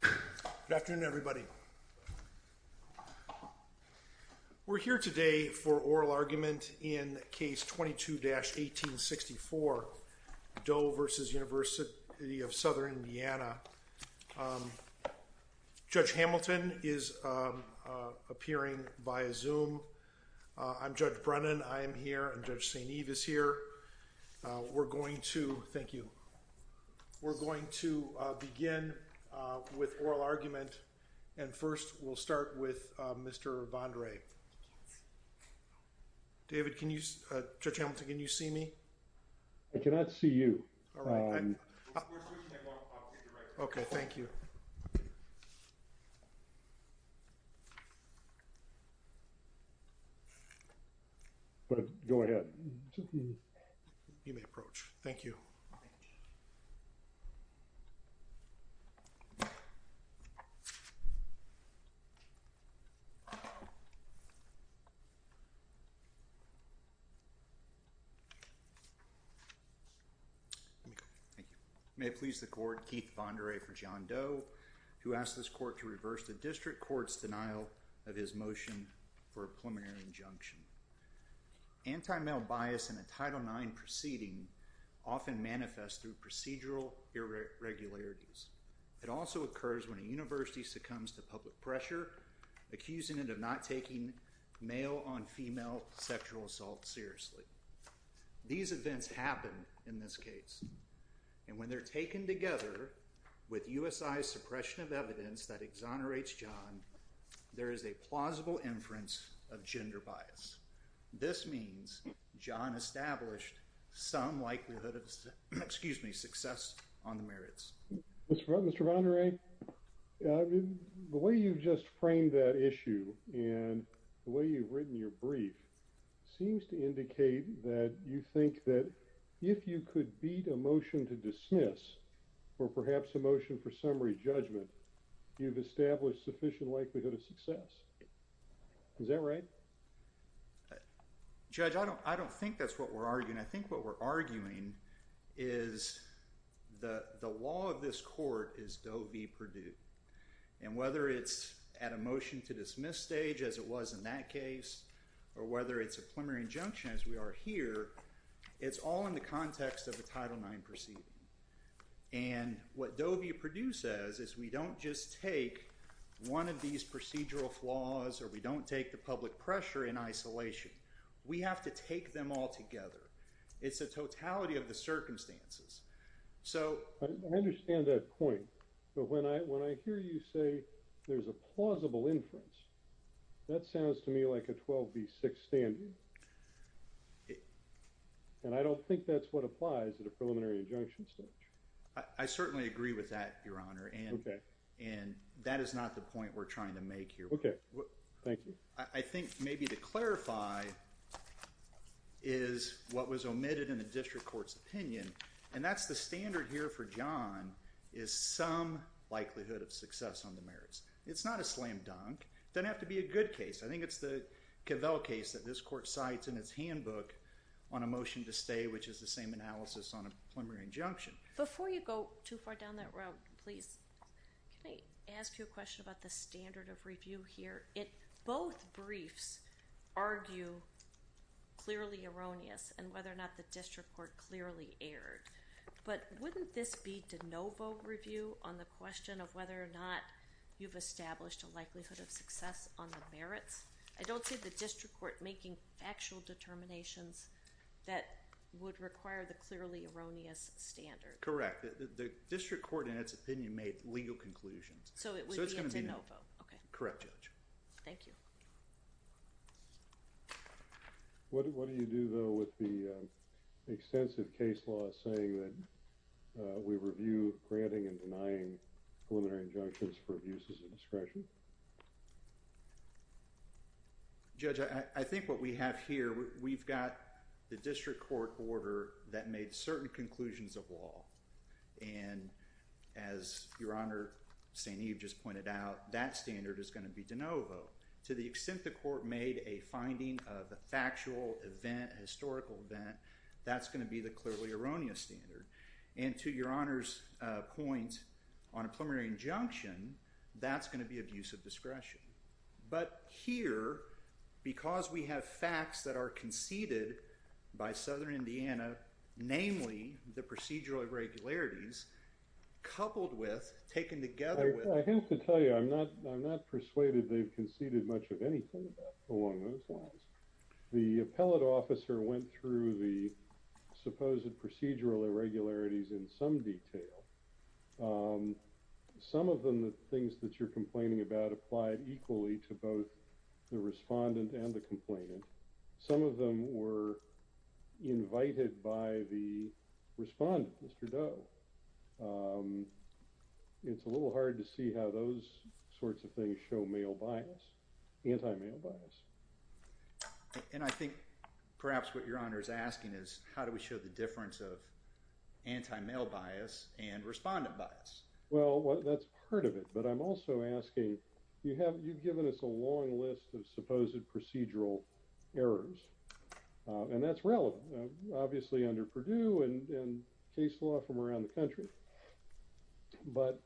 Good afternoon everybody. We're here today for oral argument in case 22-1864 Doe v. University of Southern Indiana. Judge Hamilton is appearing via Zoom. I'm Judge Brennan. I am here and Judge St. Eve is here. We're going to, thank you, we're going to begin with oral argument and first we'll start with Mr. Bondre. David, can you, Judge Hamilton, can you see me? I cannot see you. Okay, thank you. Go ahead. You may approach. Thank you. May it please the court, Keith Bondre for John Doe who asked this court to reverse the district court's denial of his motion for a preliminary injunction. Anti-male bias in a university succumbs to public pressure, accusing it of not taking male-on-female sexual assault seriously. These events happen in this case and when they're taken together with USI's suppression of evidence that exonerates John, there is a plausible inference of gender bias. This means John established some likelihood of, excuse me, success on the merits. Mr. Bondre, the way you've just framed that issue and the way you've written your brief seems to indicate that you think that if you could beat a motion to dismiss or perhaps a motion for summary judgment, you've established sufficient likelihood of success. Is that right? Judge, I don't think that's what we're arguing. I think what we're arguing is the law of this court is Doe v. Perdue. And whether it's at a motion to dismiss stage, as it was in that case, or whether it's a preliminary injunction as we are here, it's all in the context of a Title IX proceeding. And what Doe v. Perdue says is we don't just take one of these procedural flaws or we don't take the public pressure in isolation. We have to take them all together. It's a totality of the circumstances. So I understand that point. But when I hear you say there's a plausible inference, that sounds to me like a 12 v. 6 standard. And I don't think that's what applies at a preliminary injunction stage. I certainly agree with that, Your Honor. And that is not the point we're trying to clarify is what was omitted in the district court's opinion. And that's the standard here for John, is some likelihood of success on the merits. It's not a slam dunk. It doesn't have to be a good case. I think it's the Cavell case that this court cites in its handbook on a motion to stay, which is the same analysis on a preliminary injunction. Before you go too far down that road, please, can I ask you a question about the standard of argue clearly erroneous and whether or not the district court clearly erred. But wouldn't this be de novo review on the question of whether or not you've established a likelihood of success on the merits? I don't see the district court making factual determinations that would require the clearly erroneous standard. Correct. The district court, in its opinion, made legal conclusions. So it would be a de novo. Correct, Judge. Thank you. What do you do, though, with the extensive case law saying that we review granting and denying preliminary injunctions for abuses of discretion? Judge, I think what we have here, we've got the district court order that made certain conclusions of law. And as Your Honor, St. Eve just pointed out, that standard is going to be de novo. To the extent the court made a finding of a factual event, historical event, that's going to be the clearly erroneous standard. And to Your Honor's point on a preliminary injunction, that's going to be abuse of discretion. But here, because we have facts that are conceded by Southern Indiana, namely the procedural irregularities, coupled with, taken together with... I have to tell you, I'm not persuaded they've conceded much of anything along those lines. The appellate officer went through the supposed procedural irregularities in some detail. Some of the things that you're complaining about applied equally to both the respondent and the invited by the respondent, Mr. Doe. It's a little hard to see how those sorts of things show male bias, anti-male bias. And I think perhaps what Your Honor is asking is, how do we show the difference of anti-male bias and respondent bias? Well, that's part of it. But I'm also asking, you've given us a long list of supposed procedural errors. And that's relevant, obviously, under Purdue and case law from around the country. But,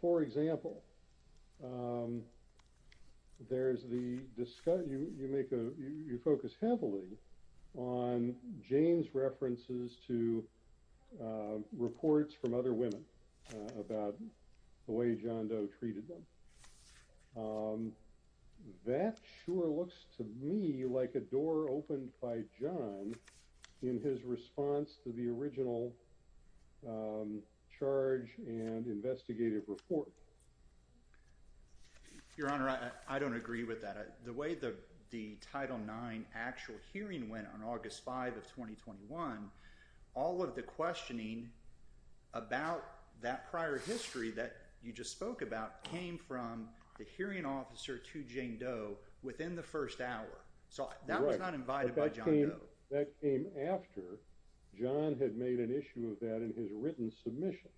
for example, there's the... you focus heavily on Jane's references to reports from other women about the way John Doe treated them. That sure looks to me like a door opened by John in his response to the original charge and investigative report. Your Honor, I don't agree with that. The way the Title IX actual hearing went on August 5 of 2021, all of the questioning about that prior history that you just spoke about came from the hearing officer to Jane Doe within the first hour. So that was not invited by John Doe. That came after John had made an issue of that in his written submissions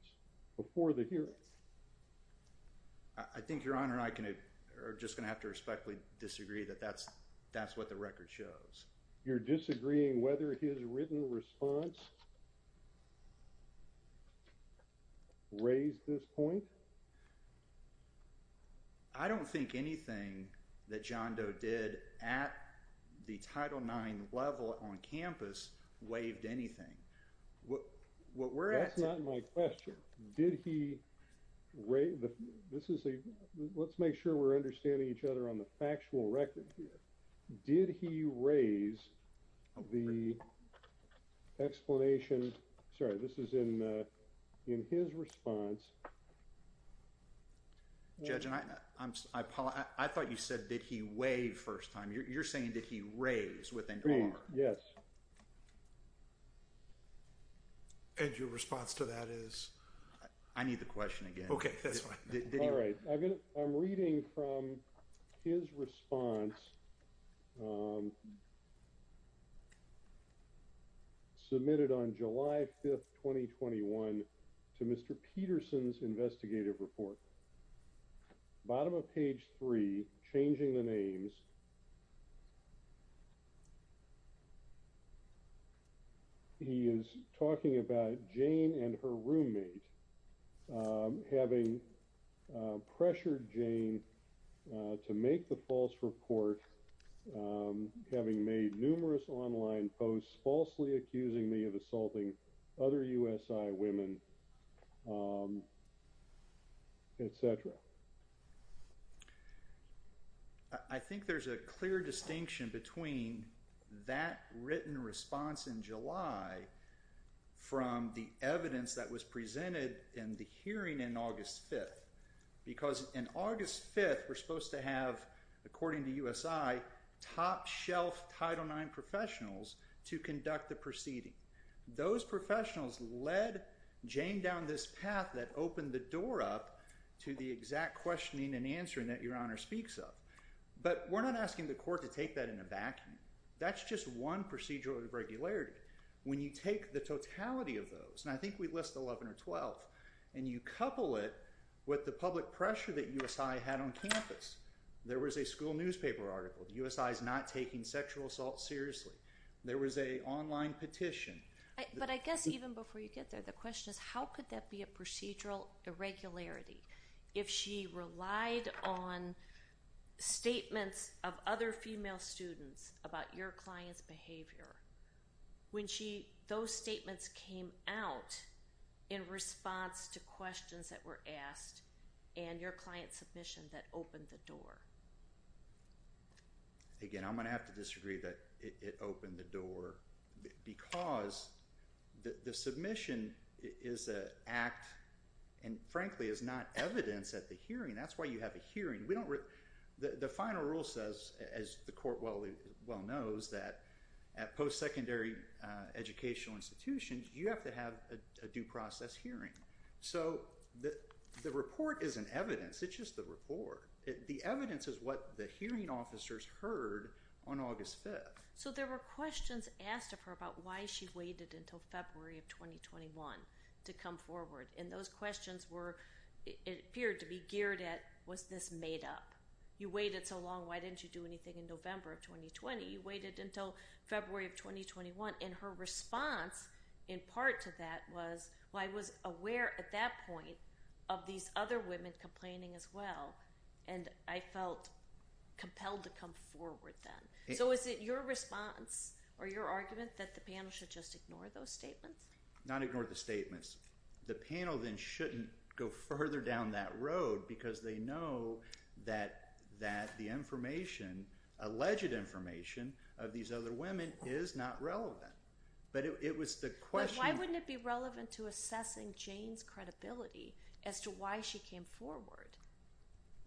before the hearing. I think Your Honor and I are just going to have to disagree that that's what the record shows. You're disagreeing whether his written response raised this point? I don't think anything that John Doe did at the Title IX level on campus waived anything. That's not my question. Let's make sure we're understanding each other on the factual record here. Did he raise the explanation? Sorry, this is in his response. Judge, I thought you said did he waive first time. You're saying did he raise within an hour? Raise, yes. And your response to that is? I need the question again. Okay, that's fine. All right, I'm reading from his response submitted on July 5, 2021 to Mr. Peterson's investigative report. Bottom of page three, changing the names. He is talking about Jane and her roommate having pressured Jane to make the false report having made numerous online posts falsely accusing me of assaulting other USI women, etc. I think there's a clear distinction between that written response in July from the evidence that was presented in the hearing in August 5. Because in August 5, we're supposed to have, according to USI, top shelf Title IX professionals to conduct the questioning and answering that your honor speaks of. But we're not asking the court to take that in a vacuum. That's just one procedural irregularity. When you take the totality of those, and I think we list 11 or 12, and you couple it with the public pressure that USI had on campus. There was a school newspaper article, USI is not taking sexual assault seriously. There was a online petition. But I guess even before you get there, the question is how could that be a procedural irregularity if she relied on statements of other female students about your client's behavior when those statements came out in response to questions that were asked and your client's submission that opened the door? Again, I'm going to have to disagree that it opened the door because the submission is an act and frankly is not evidence at the hearing. That's why you have a hearing. The final rule says, as the court well knows, that at post-secondary educational institutions, you have to have a due process hearing. So the report isn't evidence. It's just the report. The evidence is what the hearing officers heard on August 5. So there were questions asked of her about why she waited until February of 2021 to come forward. And those questions appeared to be geared at, was this made up? You waited so long, why didn't you do anything in November of 2020? You waited until February of 2021. And her response in part to that was, well, I was aware at that point of these other women complaining as well. And I felt compelled to come forward then. So is it your response or your argument that the panel should just ignore those statements? Not ignore the statements. The panel then shouldn't go further down that road because they know that the information, alleged information of these other women is not relevant. But it was the question. But why wouldn't it be relevant to assessing Jane's credibility as to why she came forward?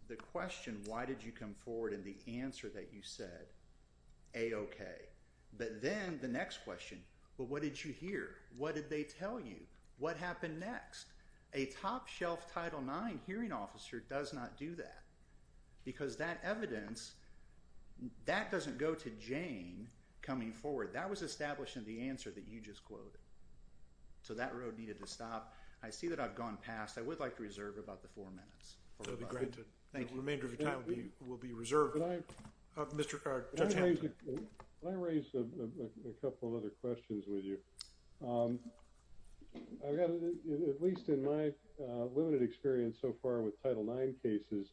The question, why did you come forward and the answer that you said, A, okay. But then the next question, well, what did you hear? What did they tell you? What happened next? A top shelf Title IX hearing officer does not do that. Because that evidence, that doesn't go to Jane coming forward. That was established in the answer that you just quoted. So that road needed to stop. I see that I've gone past. I would like to reserve about the four minutes. Thank you. Remainder of your time will be reserved. I raised a couple of other questions with you. At least in my limited experience so far with Title IX cases,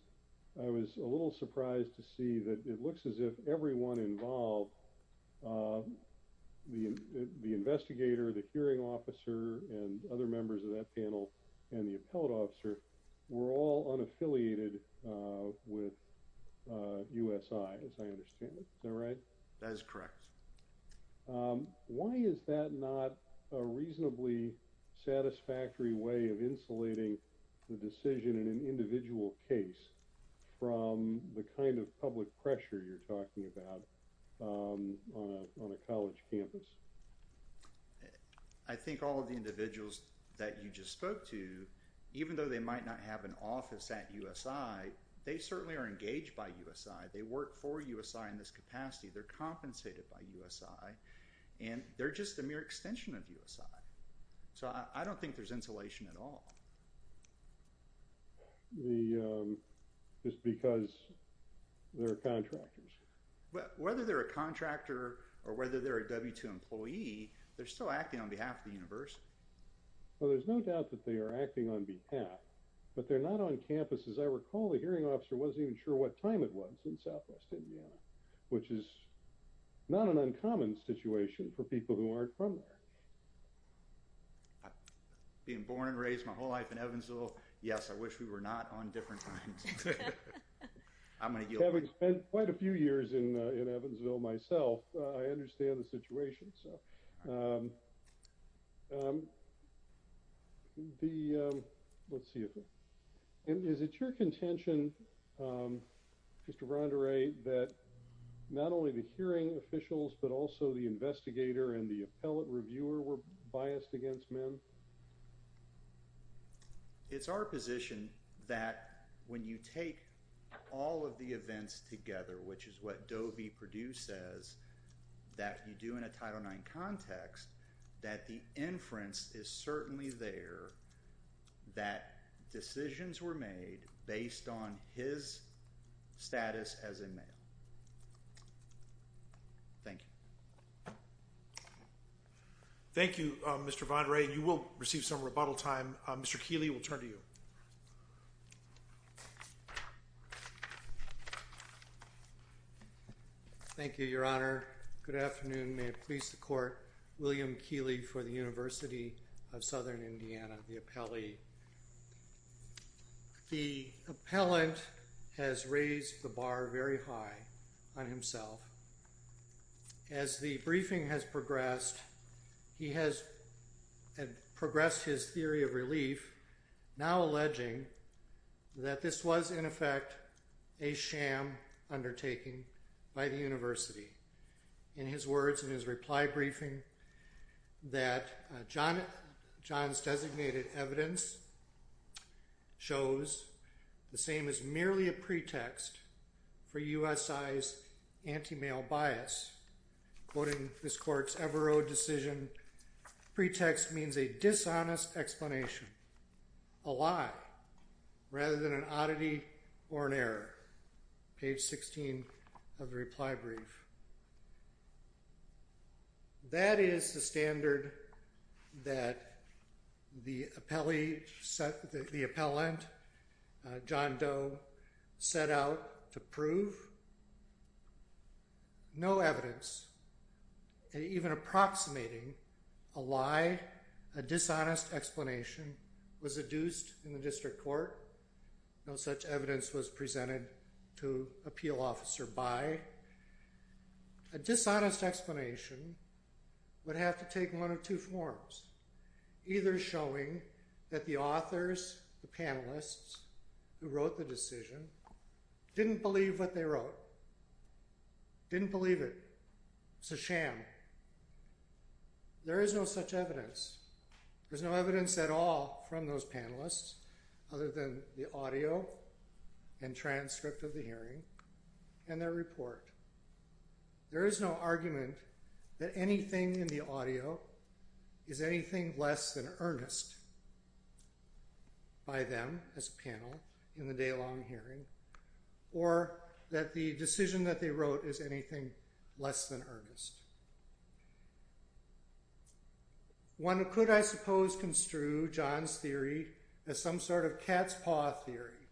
I was a little surprised to see that it looks as if everyone involved, the investigator, the hearing officer, and other members of that panel, and the appellate officer were all unaffiliated with USI, as I understand it. Is that right? That is correct. Why is that not a reasonably satisfactory way of insulating the decision in an individual case from the kind of public pressure you're talking about on a college campus? I think all of the individuals that you just spoke to, even though they might not have an office at USI, they certainly are engaged by USI. They work for USI in this capacity. They're compensated by USI. And they're just a mere extension of USI. So I don't think there's insulation at all. Just because they're contractors. Whether they're a contractor or whether they're a W-2 employee, they're still acting on behalf of the university. Well, there's no doubt that they are acting on behalf, but they're not on campus. As I recall, the hearing officer wasn't even sure what time it was in southwest Indiana, which is not an uncommon situation for people who aren't from there. Being born and raised my whole life in Evansville, yes, I wish we were not on different times. Having spent quite a few years in Evansville myself, I understand the situation. Let's see. Is it your contention, Mr. Verandere, that not only the hearing officials, but also the investigator and the appellate reviewer were biased against men? Well, it's our position that when you take all of the events together, which is what Doe v. Perdue says that you do in a Title IX context, that the inference is certainly there that decisions were made based on his status as a male. Thank you. Thank you, Mr. Verandere. You will receive some rebuttal time. Mr. Keeley, we'll turn to you. Thank you, Your Honor. Good afternoon. May it please the Court. William Keeley for the University of Southern Indiana, the appellee. The appellant has raised the bar very high on himself. As the briefing has progressed, he has progressed his theory of relief, now alleging that this was, in effect, a sham undertaking by the university. In his words in his reply briefing, that John's designated evidence shows the same as merely a pretext for USI's anti-male bias, quoting this court's Evero decision, pretext means a dishonest explanation, a lie, rather than an oddity or an error. Page 16 of the reply brief. That is the standard that the appellee, the appellant, John Doe, set out to prove. No evidence, even approximating a lie, a dishonest explanation, was adduced in the A dishonest explanation would have to take one of two forms, either showing that the authors, the panelists, who wrote the decision, didn't believe what they wrote, didn't believe it, it's a sham. There is no such evidence. There's no evidence at all from those panelists, other than the audio and transcript of the hearing and their report. There is no argument that anything in the audio is anything less than earnest by them as a panel in the day-long hearing, or that the decision that they wrote is anything less than earnest. One could, I suppose, construe John's theory as some sort of cat's paw theory,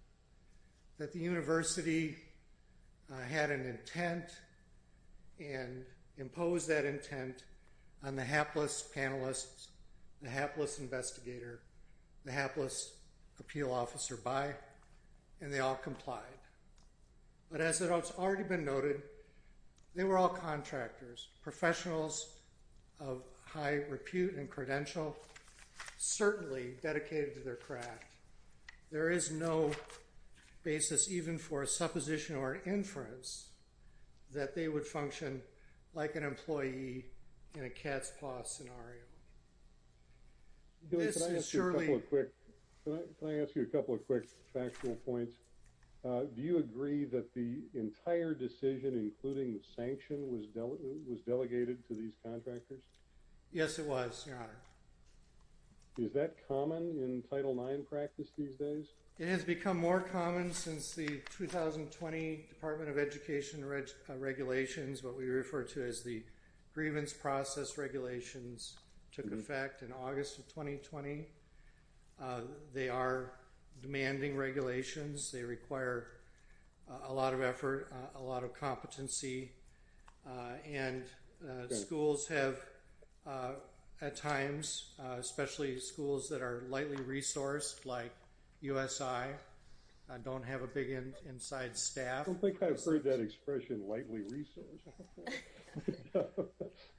that the university had an intent and imposed that intent on the hapless panelists, the hapless investigator, the hapless appeal officer by, and they all complied. But as it has already been noted, they were all contractors, professionals of high repute and credential, certainly dedicated to their craft. There is no basis, even for a supposition or inference, that they would function like an employee in a cat's paw scenario. Billy, can I ask you a couple of quick factual points? Do you agree that the entire decision, including the sanction, was delegated to these contractors? Yes, it was, your honor. Is that common in Title IX practice these days? It has become more common since the 2020 Department of Education regulations, what we refer to as the grievance process regulations, took effect in August of 2020. They are demanding regulations. They require a lot of effort, a lot of competency, and schools have, at times, especially schools that are lightly resourced, like USI, don't have a big inside staff. I don't think I've heard that expression, lightly resourced.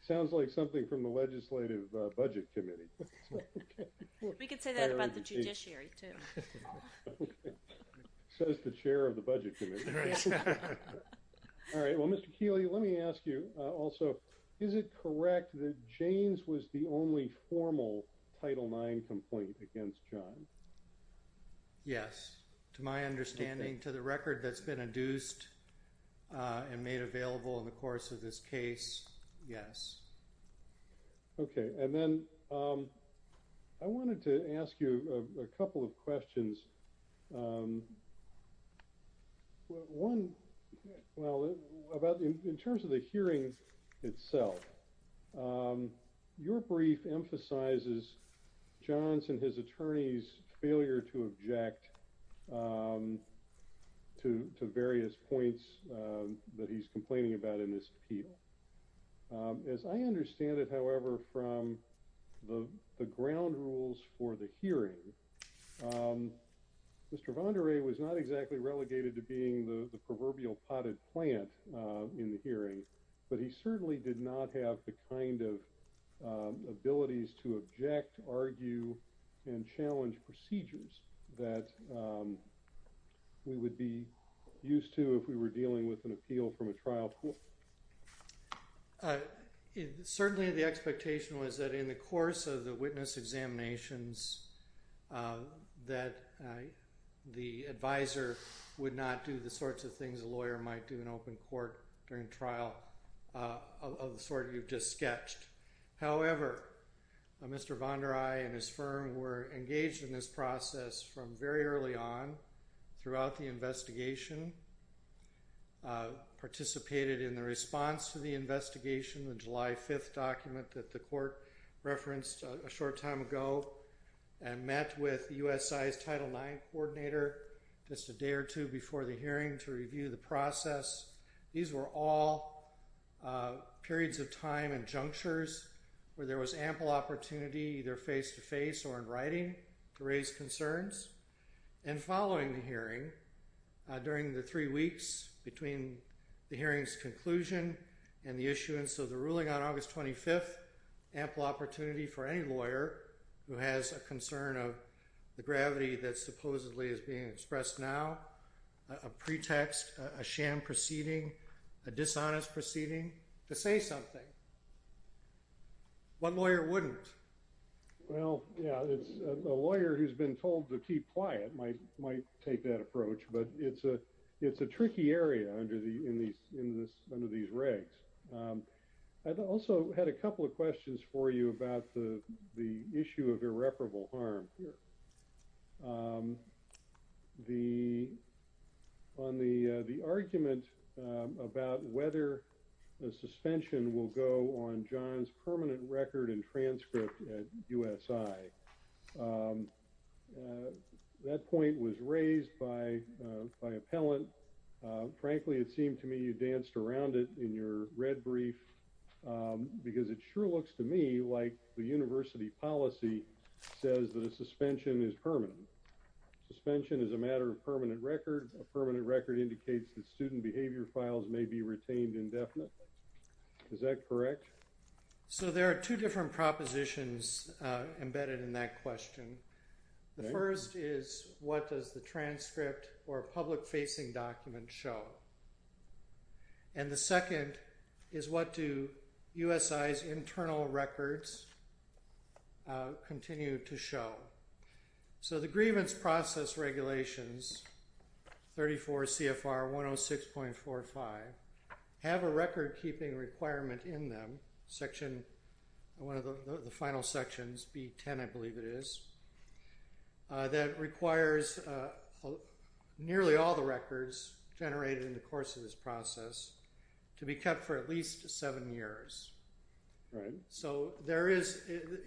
Sounds like something from the Legislative Budget Committee. We could say that about the judiciary, too. Says the chair of the Budget Committee. All right, well, Mr. Keeley, let me ask you also, is it correct that Jaynes was the only formal Title IX complaint against John? Yes, to my understanding, to the record that's been adduced and made available in the course of this case, yes. Okay, and then I wanted to ask you a couple of questions. One, well, about in terms of the hearing itself, your brief emphasizes John's and his attorney's failure to object to various points that he's complaining about in this appeal. As I understand it, however, from the ground rules for the hearing, Mr. Vandere was not exactly relegated to being the proverbial potted plant in the hearing, but he certainly did not have the kind of abilities to object, argue, and challenge procedures that we would be used to if we were dealing with an appeal from a trial court. Certainly, the expectation was that in the course of the witness examinations that the advisor would not do the sorts of things a lawyer might do in open court during trial of the sort you've just sketched. However, Mr. Vandere and his firm were engaged in this process from very early on throughout the investigation, participated in the response to the investigation, the July 5th document that the court referenced a short time ago, and met with USI's Title IX coordinator just a day or two before the hearing to review the process. These were all periods of time and junctures where there was ample opportunity either face-to-face or in writing to raise concerns. And following the hearing, during the three weeks between the hearing's conclusion and the issuance of the ruling on August 25th, ample opportunity for any lawyer who has a concern of the gravity that supposedly is being expressed now, a pretext, a sham proceeding, a dishonest proceeding, to say something. One lawyer wouldn't. Well, yeah, a lawyer who's been told to keep quiet might take that approach, but it's a in this, under these regs. I also had a couple of questions for you about the issue of irreparable harm here. The, on the argument about whether a suspension will go on John's permanent record and to me you danced around it in your red brief because it sure looks to me like the university policy says that a suspension is permanent. Suspension is a matter of permanent record. A permanent record indicates that student behavior files may be retained indefinitely. Is that correct? So there are two different propositions embedded in that question. The first is what does the transcript or public facing document show? And the second is what do USI's internal records continue to show? So the grievance process regulations, 34 CFR 106.45, have a record keeping requirement in them, section, one of the final sections, B10 I believe it is, that requires nearly all the records generated in the course of this process to be kept for at least seven years. Right. So there is,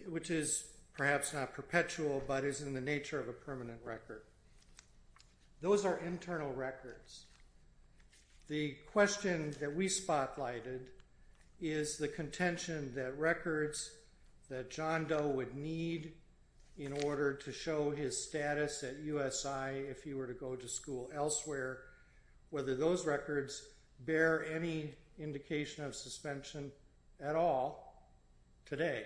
which is perhaps not perpetual, but is in the nature of a permanent record. Those are internal records. The question that we spotlighted is the contention that records that John Doe would need in order to show his status at USI if he were to go to school elsewhere, whether those records bear any indication of suspension at all today.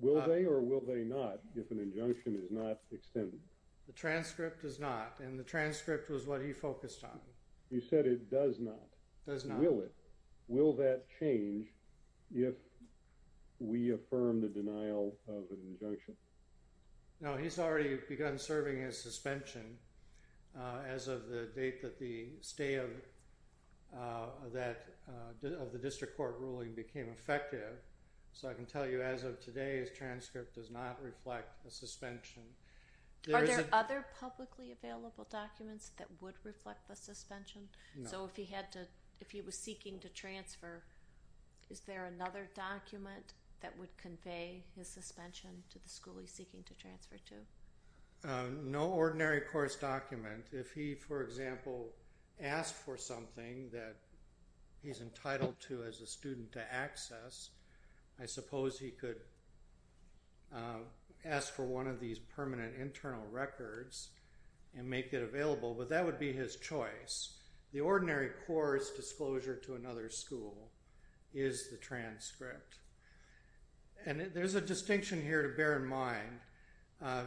Will they or will they not if an injunction is not does not? Will it? Will that change if we affirm the denial of an injunction? No, he's already begun serving his suspension as of the date that the stay of that of the district court ruling became effective. So I can tell you as of today, his transcript does not reflect a suspension. Are there other publicly available documents that would reflect the if he was seeking to transfer, is there another document that would convey his suspension to the school he's seeking to transfer to? No ordinary course document. If he, for example, asked for something that he's entitled to as a student to access, I suppose he could ask for one of these permanent internal records and make it available, but that would be his choice. The ordinary course disclosure to another school is the transcript. And there's a distinction here to bear in mind.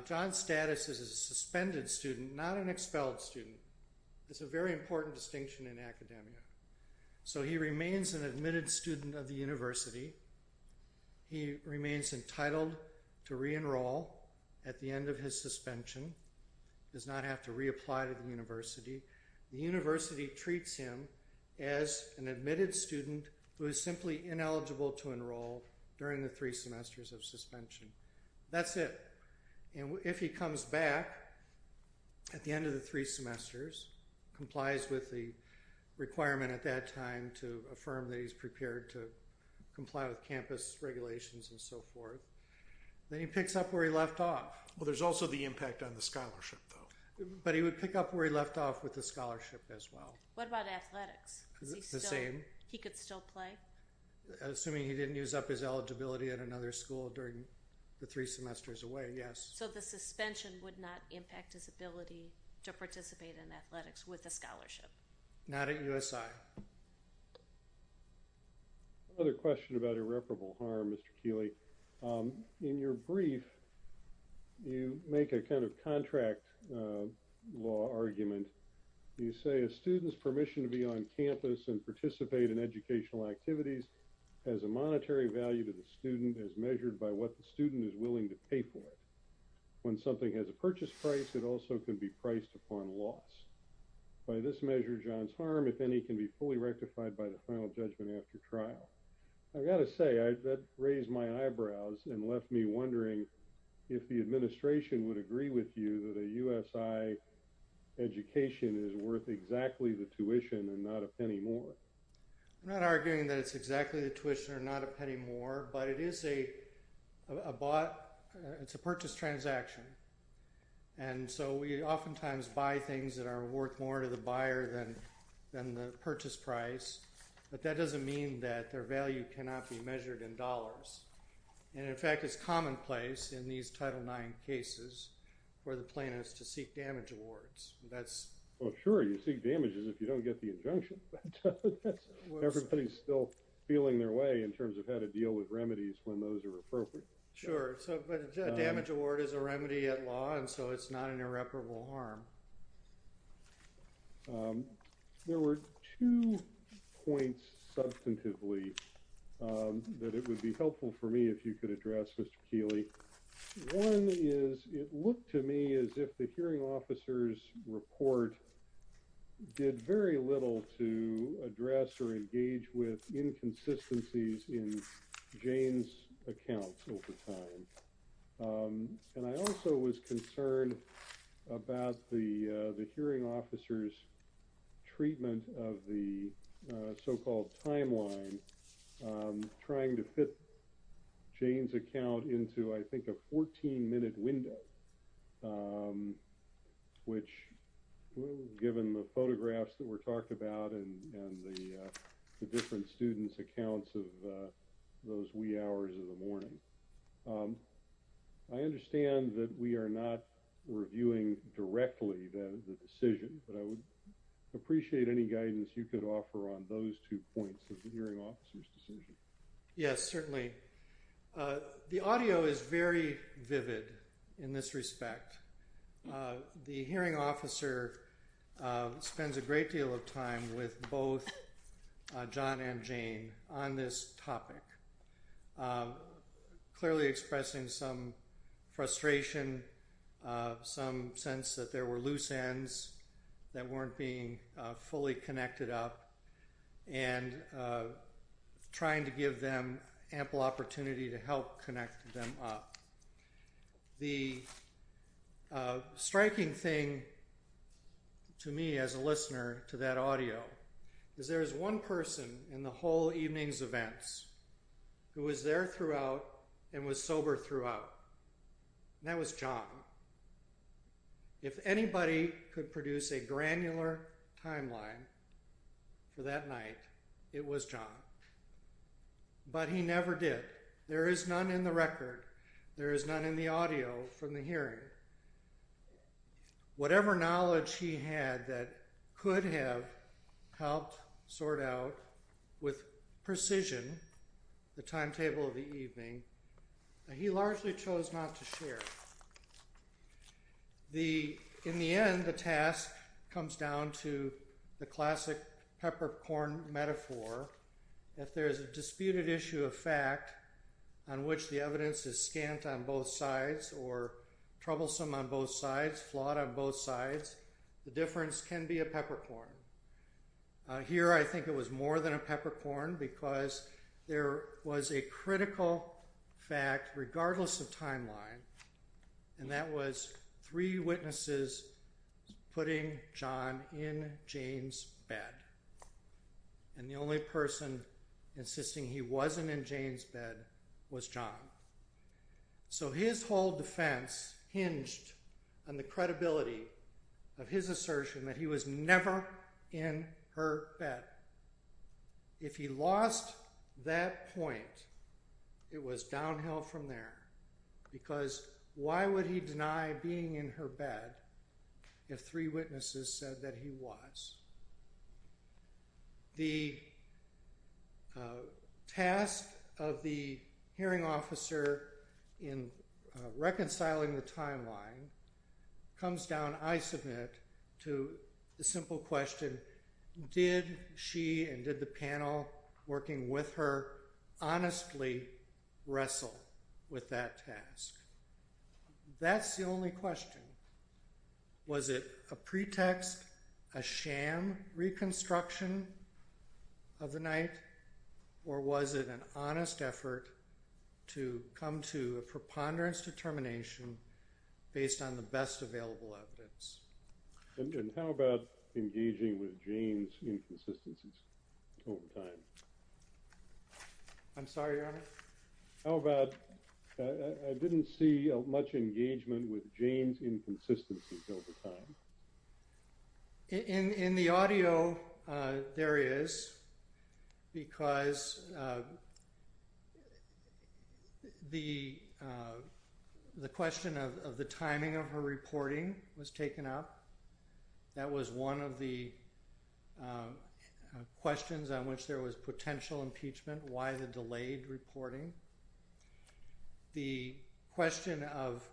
John's status is a suspended student, not an expelled student. It's a very important distinction in academia. So he remains an admitted student of the university. He remains entitled to re-enroll at the end of his suspension, does not have to reapply to university. The university treats him as an admitted student who is simply ineligible to enroll during the three semesters of suspension. That's it. And if he comes back at the end of the three semesters, complies with the requirement at that time to affirm that he's prepared to comply with campus regulations and so forth, then he picks up where he left off. Well, there's also the impact on the scholarship though. But he would pick up where he left off with the scholarship as well. What about athletics? The same. He could still play? Assuming he didn't use up his eligibility at another school during the three semesters away, yes. So the suspension would not impact his ability to participate in athletics with a scholarship? Not at USI. Another question about irreparable harm, Mr. Keeley. In your brief, you make a kind of contract law argument. You say a student's permission to be on campus and participate in educational activities has a monetary value to the student as measured by what the student is willing to pay for. When something has a purchase price, it also can be priced upon loss. By this measure, John's harm, if any, can be fully rectified by the final judgment after trial. I've got to say, that raised my eyebrows and left me wondering if the administration would agree with you that a USI education is worth exactly the tuition and not a penny more. I'm not arguing that it's exactly the tuition or not a penny more, but it is a purchase transaction. And so we oftentimes buy things that are worth more to the buyer than the purchase price, but that doesn't mean that their value cannot be measured in dollars. And in fact, it's commonplace in these Title IX cases for the plaintiffs to seek damage awards. Oh sure, you seek damages if you don't get the injunction. Everybody's still feeling their way in terms of how to deal with remedies when those are appropriate. Sure, but a damage award is a remedy at law, and so it's not an irreparable harm. There were two points substantively that it would be helpful for me if you could address, Mr. Keeley. One is, it looked to me as if the hearing officer's report did very little to address or engage with inconsistencies in Jane's accounts over time. And I also was concerned about the hearing officer's treatment of the so-called timeline trying to fit Jane's account into, I think, a 14-minute window, which given the photographs that were talked about and the different students' accounts of those wee hours of the morning. I understand that we are not reviewing directly the decision, but I would appreciate any guidance you could offer on those two points of the hearing officer's decision. Yes, certainly. The audio is very vivid in this respect. The hearing officer spends a great deal of time with both John and Jane on this topic, clearly expressing some frustration, some sense that there were loose ends that weren't being fully connected up, and trying to give them ample opportunity to help connect them up. The striking thing to me as a listener to that audio is there is one person in the whole evening's events who was there throughout and was sober throughout, and that was John. If anybody could produce a granular timeline for that night, it was John. But he never did. There is none in the audio from the hearing. Whatever knowledge he had that could have helped sort out with precision the timetable of the evening, he largely chose not to share. In the end, the task comes down to the classic peppercorn metaphor that there is a disputed issue of fact on which the evidence is scant on both sides or troublesome on both sides, flawed on both sides. The difference can be a peppercorn. Here, I think it was more than a peppercorn because there was a critical fact regardless of timeline, and that was three witnesses said that he was. The task was to find out whether or not John was in Jane's bed. If he lost that point, it was downhill from there because why would he deny being in her bed if three witnesses said that he was? The task of the hearing officer in reconciling the timeline comes down, I submit, to the simple question, did she and did the panel working with her Was it a pretext, a sham reconstruction of the night, or was it an honest effort to come to a preponderance determination based on the best available evidence? And how about engaging with Jane's inconsistencies over time? I'm sorry, Your Honor? How about, I didn't see much engagement with Jane's inconsistencies over time. In the audio, there is, because the question of the timing of her reporting was taken up. That was one of the potential impeachment, why the delayed reporting. The question of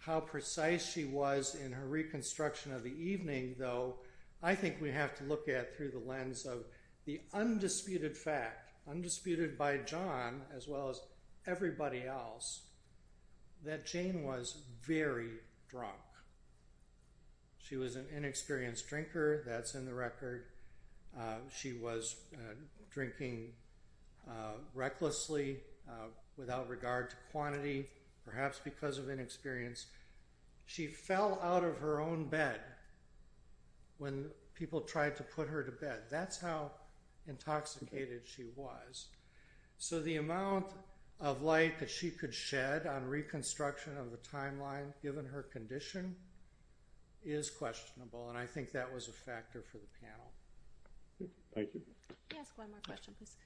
how precise she was in her reconstruction of the evening, though, I think we have to look at through the lens of the undisputed fact, undisputed by John as well as everybody else, that Jane was very drunk. She was an inexperienced drinker, that's in the record. She was drinking recklessly, without regard to quantity, perhaps because of inexperience. She fell out of her own bed when people tried to put her to bed. That's how intoxicated she was. So the amount of light that she could shed on reconstruction of the timeline, given her condition, is questionable, and I think that was a factor for the panel. Thank you. Can I ask one more question, please?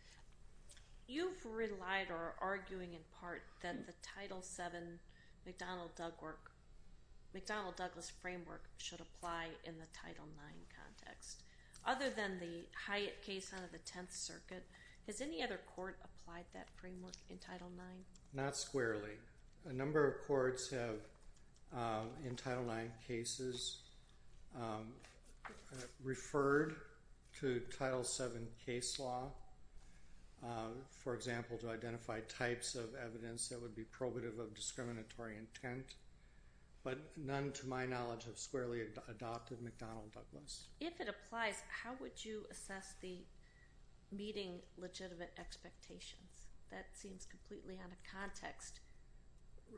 You've relied, or are arguing in part, that the Title VII McDonnell-Douglas framework should apply in the Title IX context. Other than the Hyatt case out of the Tenth Circuit, has any other court applied that framework in Title IX? Not squarely. A number of courts have, in Title IX cases, referred to Title VII case law, for example, to identify types of evidence that would be probative of discriminatory intent, but none, to my knowledge, have squarely adopted McDonnell-Douglas. If it applies, how would you assess the meeting legitimate expectations? That seems completely out of context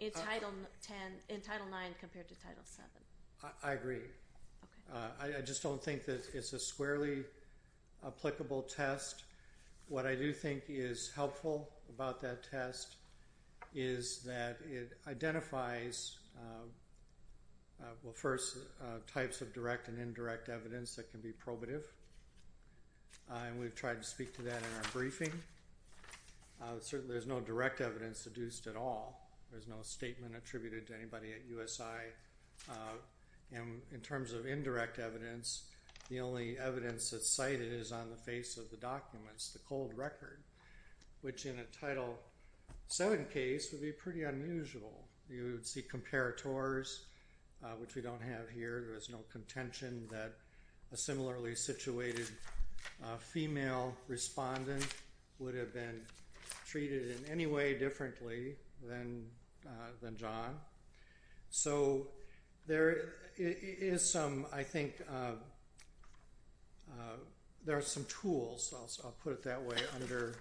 in Title IX compared to Title VII. I agree. I just don't think that it's a squarely applicable test. What I do think is helpful about that test is that it identifies, well, first, types of direct and indirect evidence that can be probative, and we've tried to speak to that in our briefing. There's no direct evidence adduced at all. There's no statement attributed to anybody at USI, and in terms of indirect evidence, the only evidence that's cited is on the face of the documents, the cold record, which in a Title VII case would be pretty unusual. You would see comparators, which we don't have here. There is no contention that a similarly situated female respondent would have been treated in any way differently than John. So there is some, I think, there are some tools, I'll put it that way, under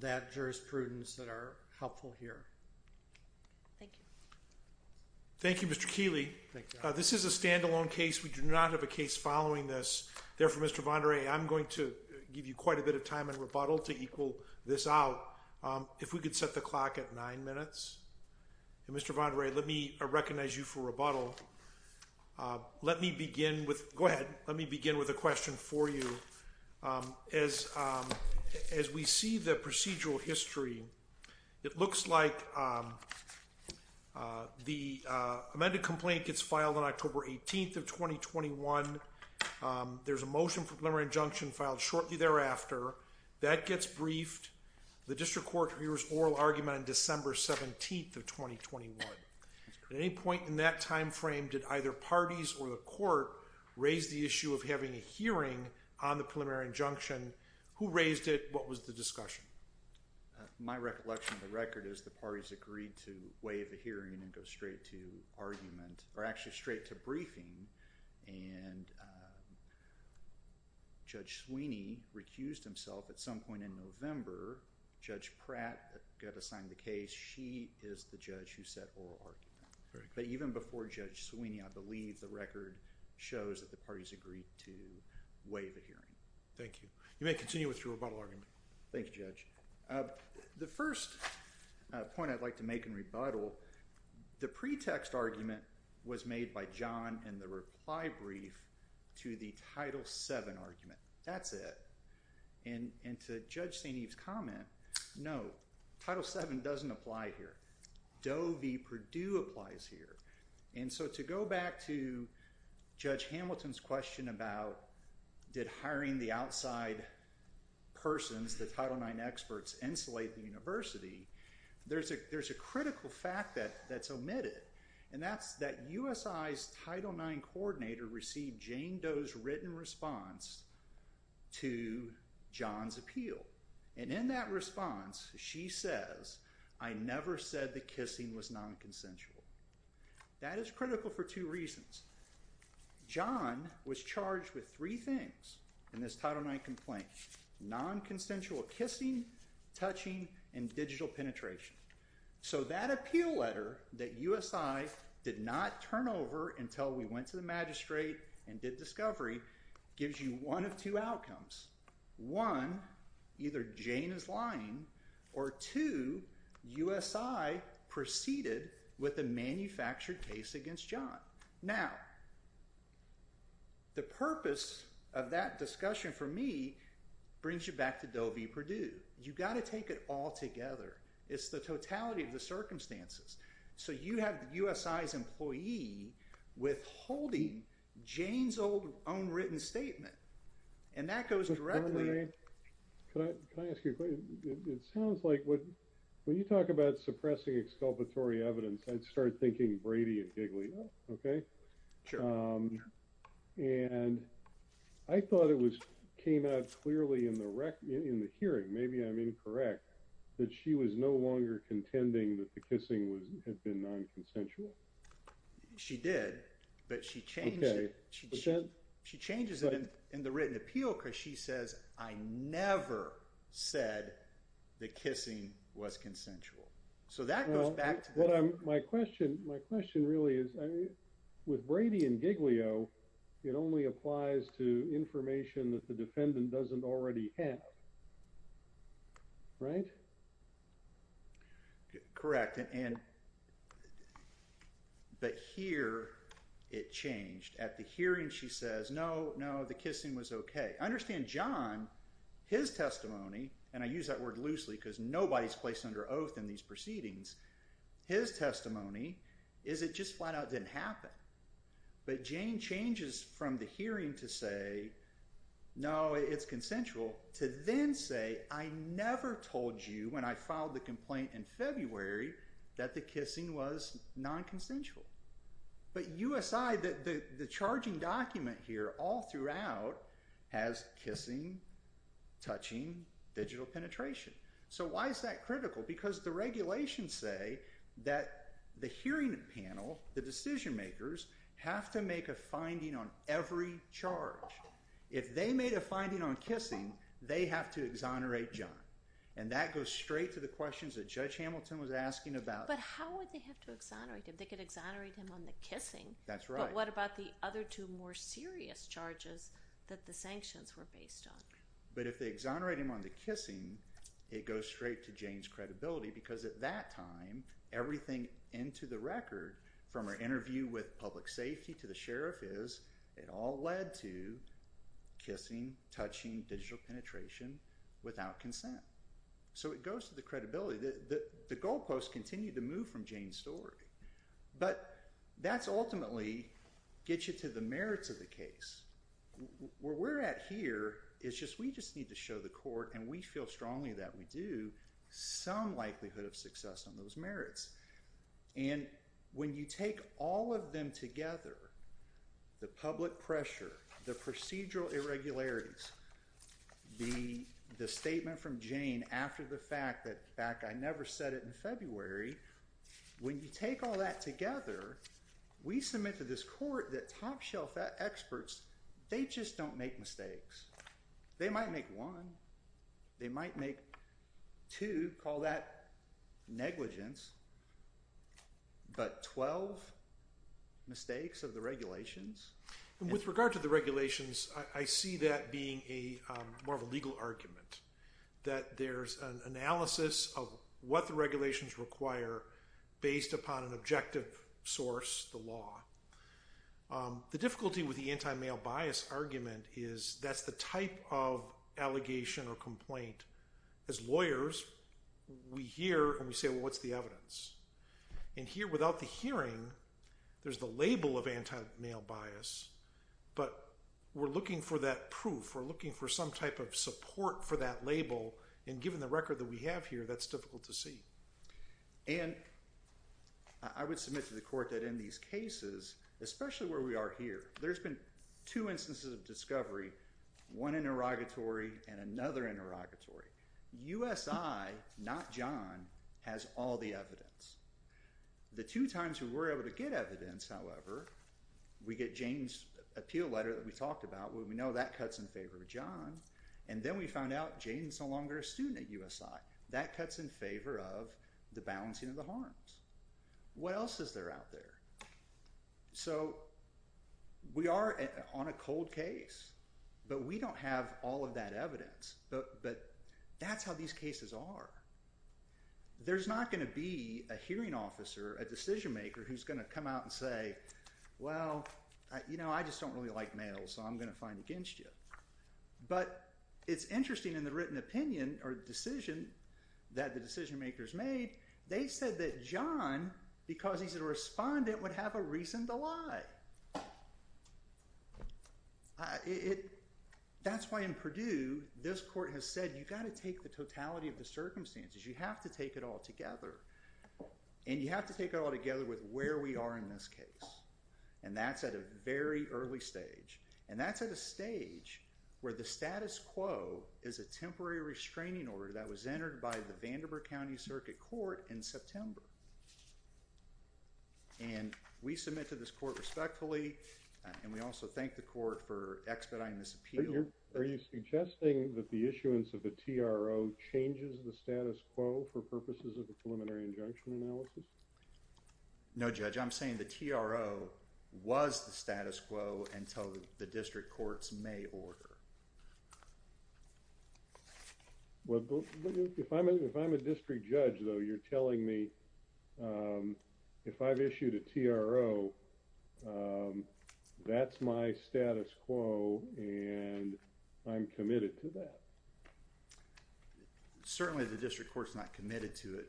that jurisprudence that are helpful here. Thank you. Thank you, Mr. Keeley. This is a standalone case. We do not have a case following this. Therefore, Mr. Vandere, I'm going to give you quite a bit of time in rebuttal to equal this out. If we could set the clock at nine minutes. Mr. Vandere, let me recognize you for rebuttal. Let me begin with, go ahead, let me begin with a question for you. As we see the procedural history, it looks like the amended complaint gets filed on October 18th of 2021. There's a motion for preliminary injunction filed shortly thereafter. That gets briefed. The timeframe, did either parties or the court raise the issue of having a hearing on the preliminary injunction? Who raised it? What was the discussion? My recollection of the record is the parties agreed to waive the hearing and go straight to argument, or actually straight to briefing. Judge Sweeney recused himself at some point in November. Judge Pratt got assigned the case. She is the judge who set oral argument. But even before Judge Sweeney, I believe the record shows that the parties agreed to waive a hearing. Thank you. You may continue with your rebuttal argument. Thank you, Judge. The first point I'd like to make in rebuttal, the pretext argument was made by John in the reply brief to the Title VII argument. That's it. And to Judge St. Eve's comment, no, Title VII doesn't apply here. Doe v. Perdue applies here. And so to go back to Judge Hamilton's question about did hiring the outside persons, the Title IX experts, insulate the university, there's a critical fact that's omitted. And that's that USI's Title IX response, she says, I never said the kissing was nonconsensual. That is critical for two reasons. John was charged with three things in this Title IX complaint. Nonconsensual kissing, touching, and digital penetration. So that appeal letter that USI did not turn over until we went the magistrate and did discovery gives you one of two outcomes. One, either Jane is lying, or two, USI proceeded with a manufactured case against John. Now, the purpose of that discussion for me brings you back to Doe v. Perdue. You've got to take it all together. It's the totality of the circumstances. So you have the USI's employee withholding Jane's own written statement. And that goes directly... Can I ask you a question? It sounds like when you talk about suppressing exculpatory evidence, I'd start thinking Brady and Giglio, okay? Sure. And I thought it came out clearly in the hearing, maybe I'm incorrect, that she was no longer contending that the kissing had been nonconsensual. She did, but she changes it in the written appeal because she says, I never said the kissing was consensual. So that goes back to... Well, my question really is, with Brady and Giglio, it only applies to information that defendant doesn't already have, right? Correct. But here, it changed. At the hearing, she says, no, no, the kissing was okay. I understand John, his testimony, and I use that word loosely because nobody's placed under oath in these proceedings, his testimony is it just flat out didn't happen. But Jane changes from the hearing to say, no, it's consensual, to then say, I never told you when I filed the complaint in February that the kissing was nonconsensual. But USI, the charging document here all throughout has kissing, touching, digital penetration. So why is that critical? Because the regulations say that the hearing panel, the decision makers, have to make a charge. If they made a finding on kissing, they have to exonerate John. And that goes straight to the questions that Judge Hamilton was asking about... But how would they have to exonerate him? They could exonerate him on the kissing. That's right. But what about the other two more serious charges that the sanctions were based on? But if they exonerate him on the kissing, it goes straight to Jane's credibility because at that time, everything into the record, from her interview with public safety to the sheriff, it all led to kissing, touching, digital penetration without consent. So it goes to the credibility. The goalposts continue to move from Jane's story. But that ultimately gets you to the merits of the case. Where we're at here is we just need to show the court, and we feel strongly that we do, some likelihood of you take all of them together, the public pressure, the procedural irregularities, the statement from Jane after the fact that, in fact, I never said it in February, when you take all that together, we submit to this court that top-shelf experts, they just don't make mistakes. They might make one. They might make two, call that negligence. But 12 mistakes of the regulations? And with regard to the regulations, I see that being a more of a legal argument, that there's an analysis of what the regulations require based upon an objective source, the law. The difficulty with the anti-male bias argument is that's the type of allegation or complaint as lawyers, we hear and we say, well, what's the evidence? And here without the hearing, there's the label of anti-male bias. But we're looking for that proof. We're looking for some type of support for that label. And given the record that we have here, that's difficult to see. And I would submit to the court that in these cases, especially where we are here, there's been two instances of discovery, one interrogatory and another interrogatory. USI, not John, has all the evidence. The two times we were able to get evidence, however, we get Jane's appeal letter that we talked about where we know that cuts in favor of John. And then we found out Jane's no longer a student at USI. That cuts in favor of the balancing of harms. What else is there out there? So we are on a cold case, but we don't have all of that evidence. But that's how these cases are. There's not going to be a hearing officer, a decision maker who's going to come out and say, well, you know, I just don't really like males, so I'm going to find against you. But it's interesting in the written opinion or decision that the decision makers made, they said that John, because he's a respondent, would have a reason to lie. That's why in Purdue, this court has said you've got to take the totality of the circumstances. You have to take it all together. And you have to take it all together with where we are in this case. And that's at a very early stage. And that's at a stage where the status quo is a temporary restraining order that was entered by the Vanderbilt County Circuit Court in September. And we submit to this court respectfully, and we also thank the court for expediting this appeal. Are you suggesting that the issuance of the TRO changes the status quo for purposes of the preliminary injunction analysis? No, Judge. I'm saying the TRO was the status quo until the district courts may order. Well, if I'm a district judge, though, you're telling me if I've issued a TRO, that's my status quo, and I'm committed to that. Certainly the district court's not committed to it.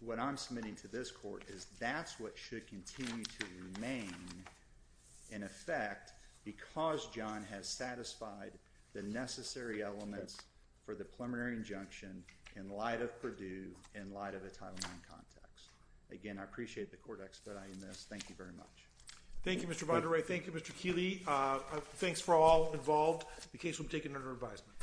What I'm submitting to this court is that's what should continue to remain in effect because John has satisfied the necessary elements for the preliminary injunction in light of Purdue, in light of the Title IX context. Again, I appreciate the court expediting this. Thank you very much. Thank you, Mr. Vandere. Thank you, Mr. Keeley. Thanks for all involved. The case will be taken under advisement.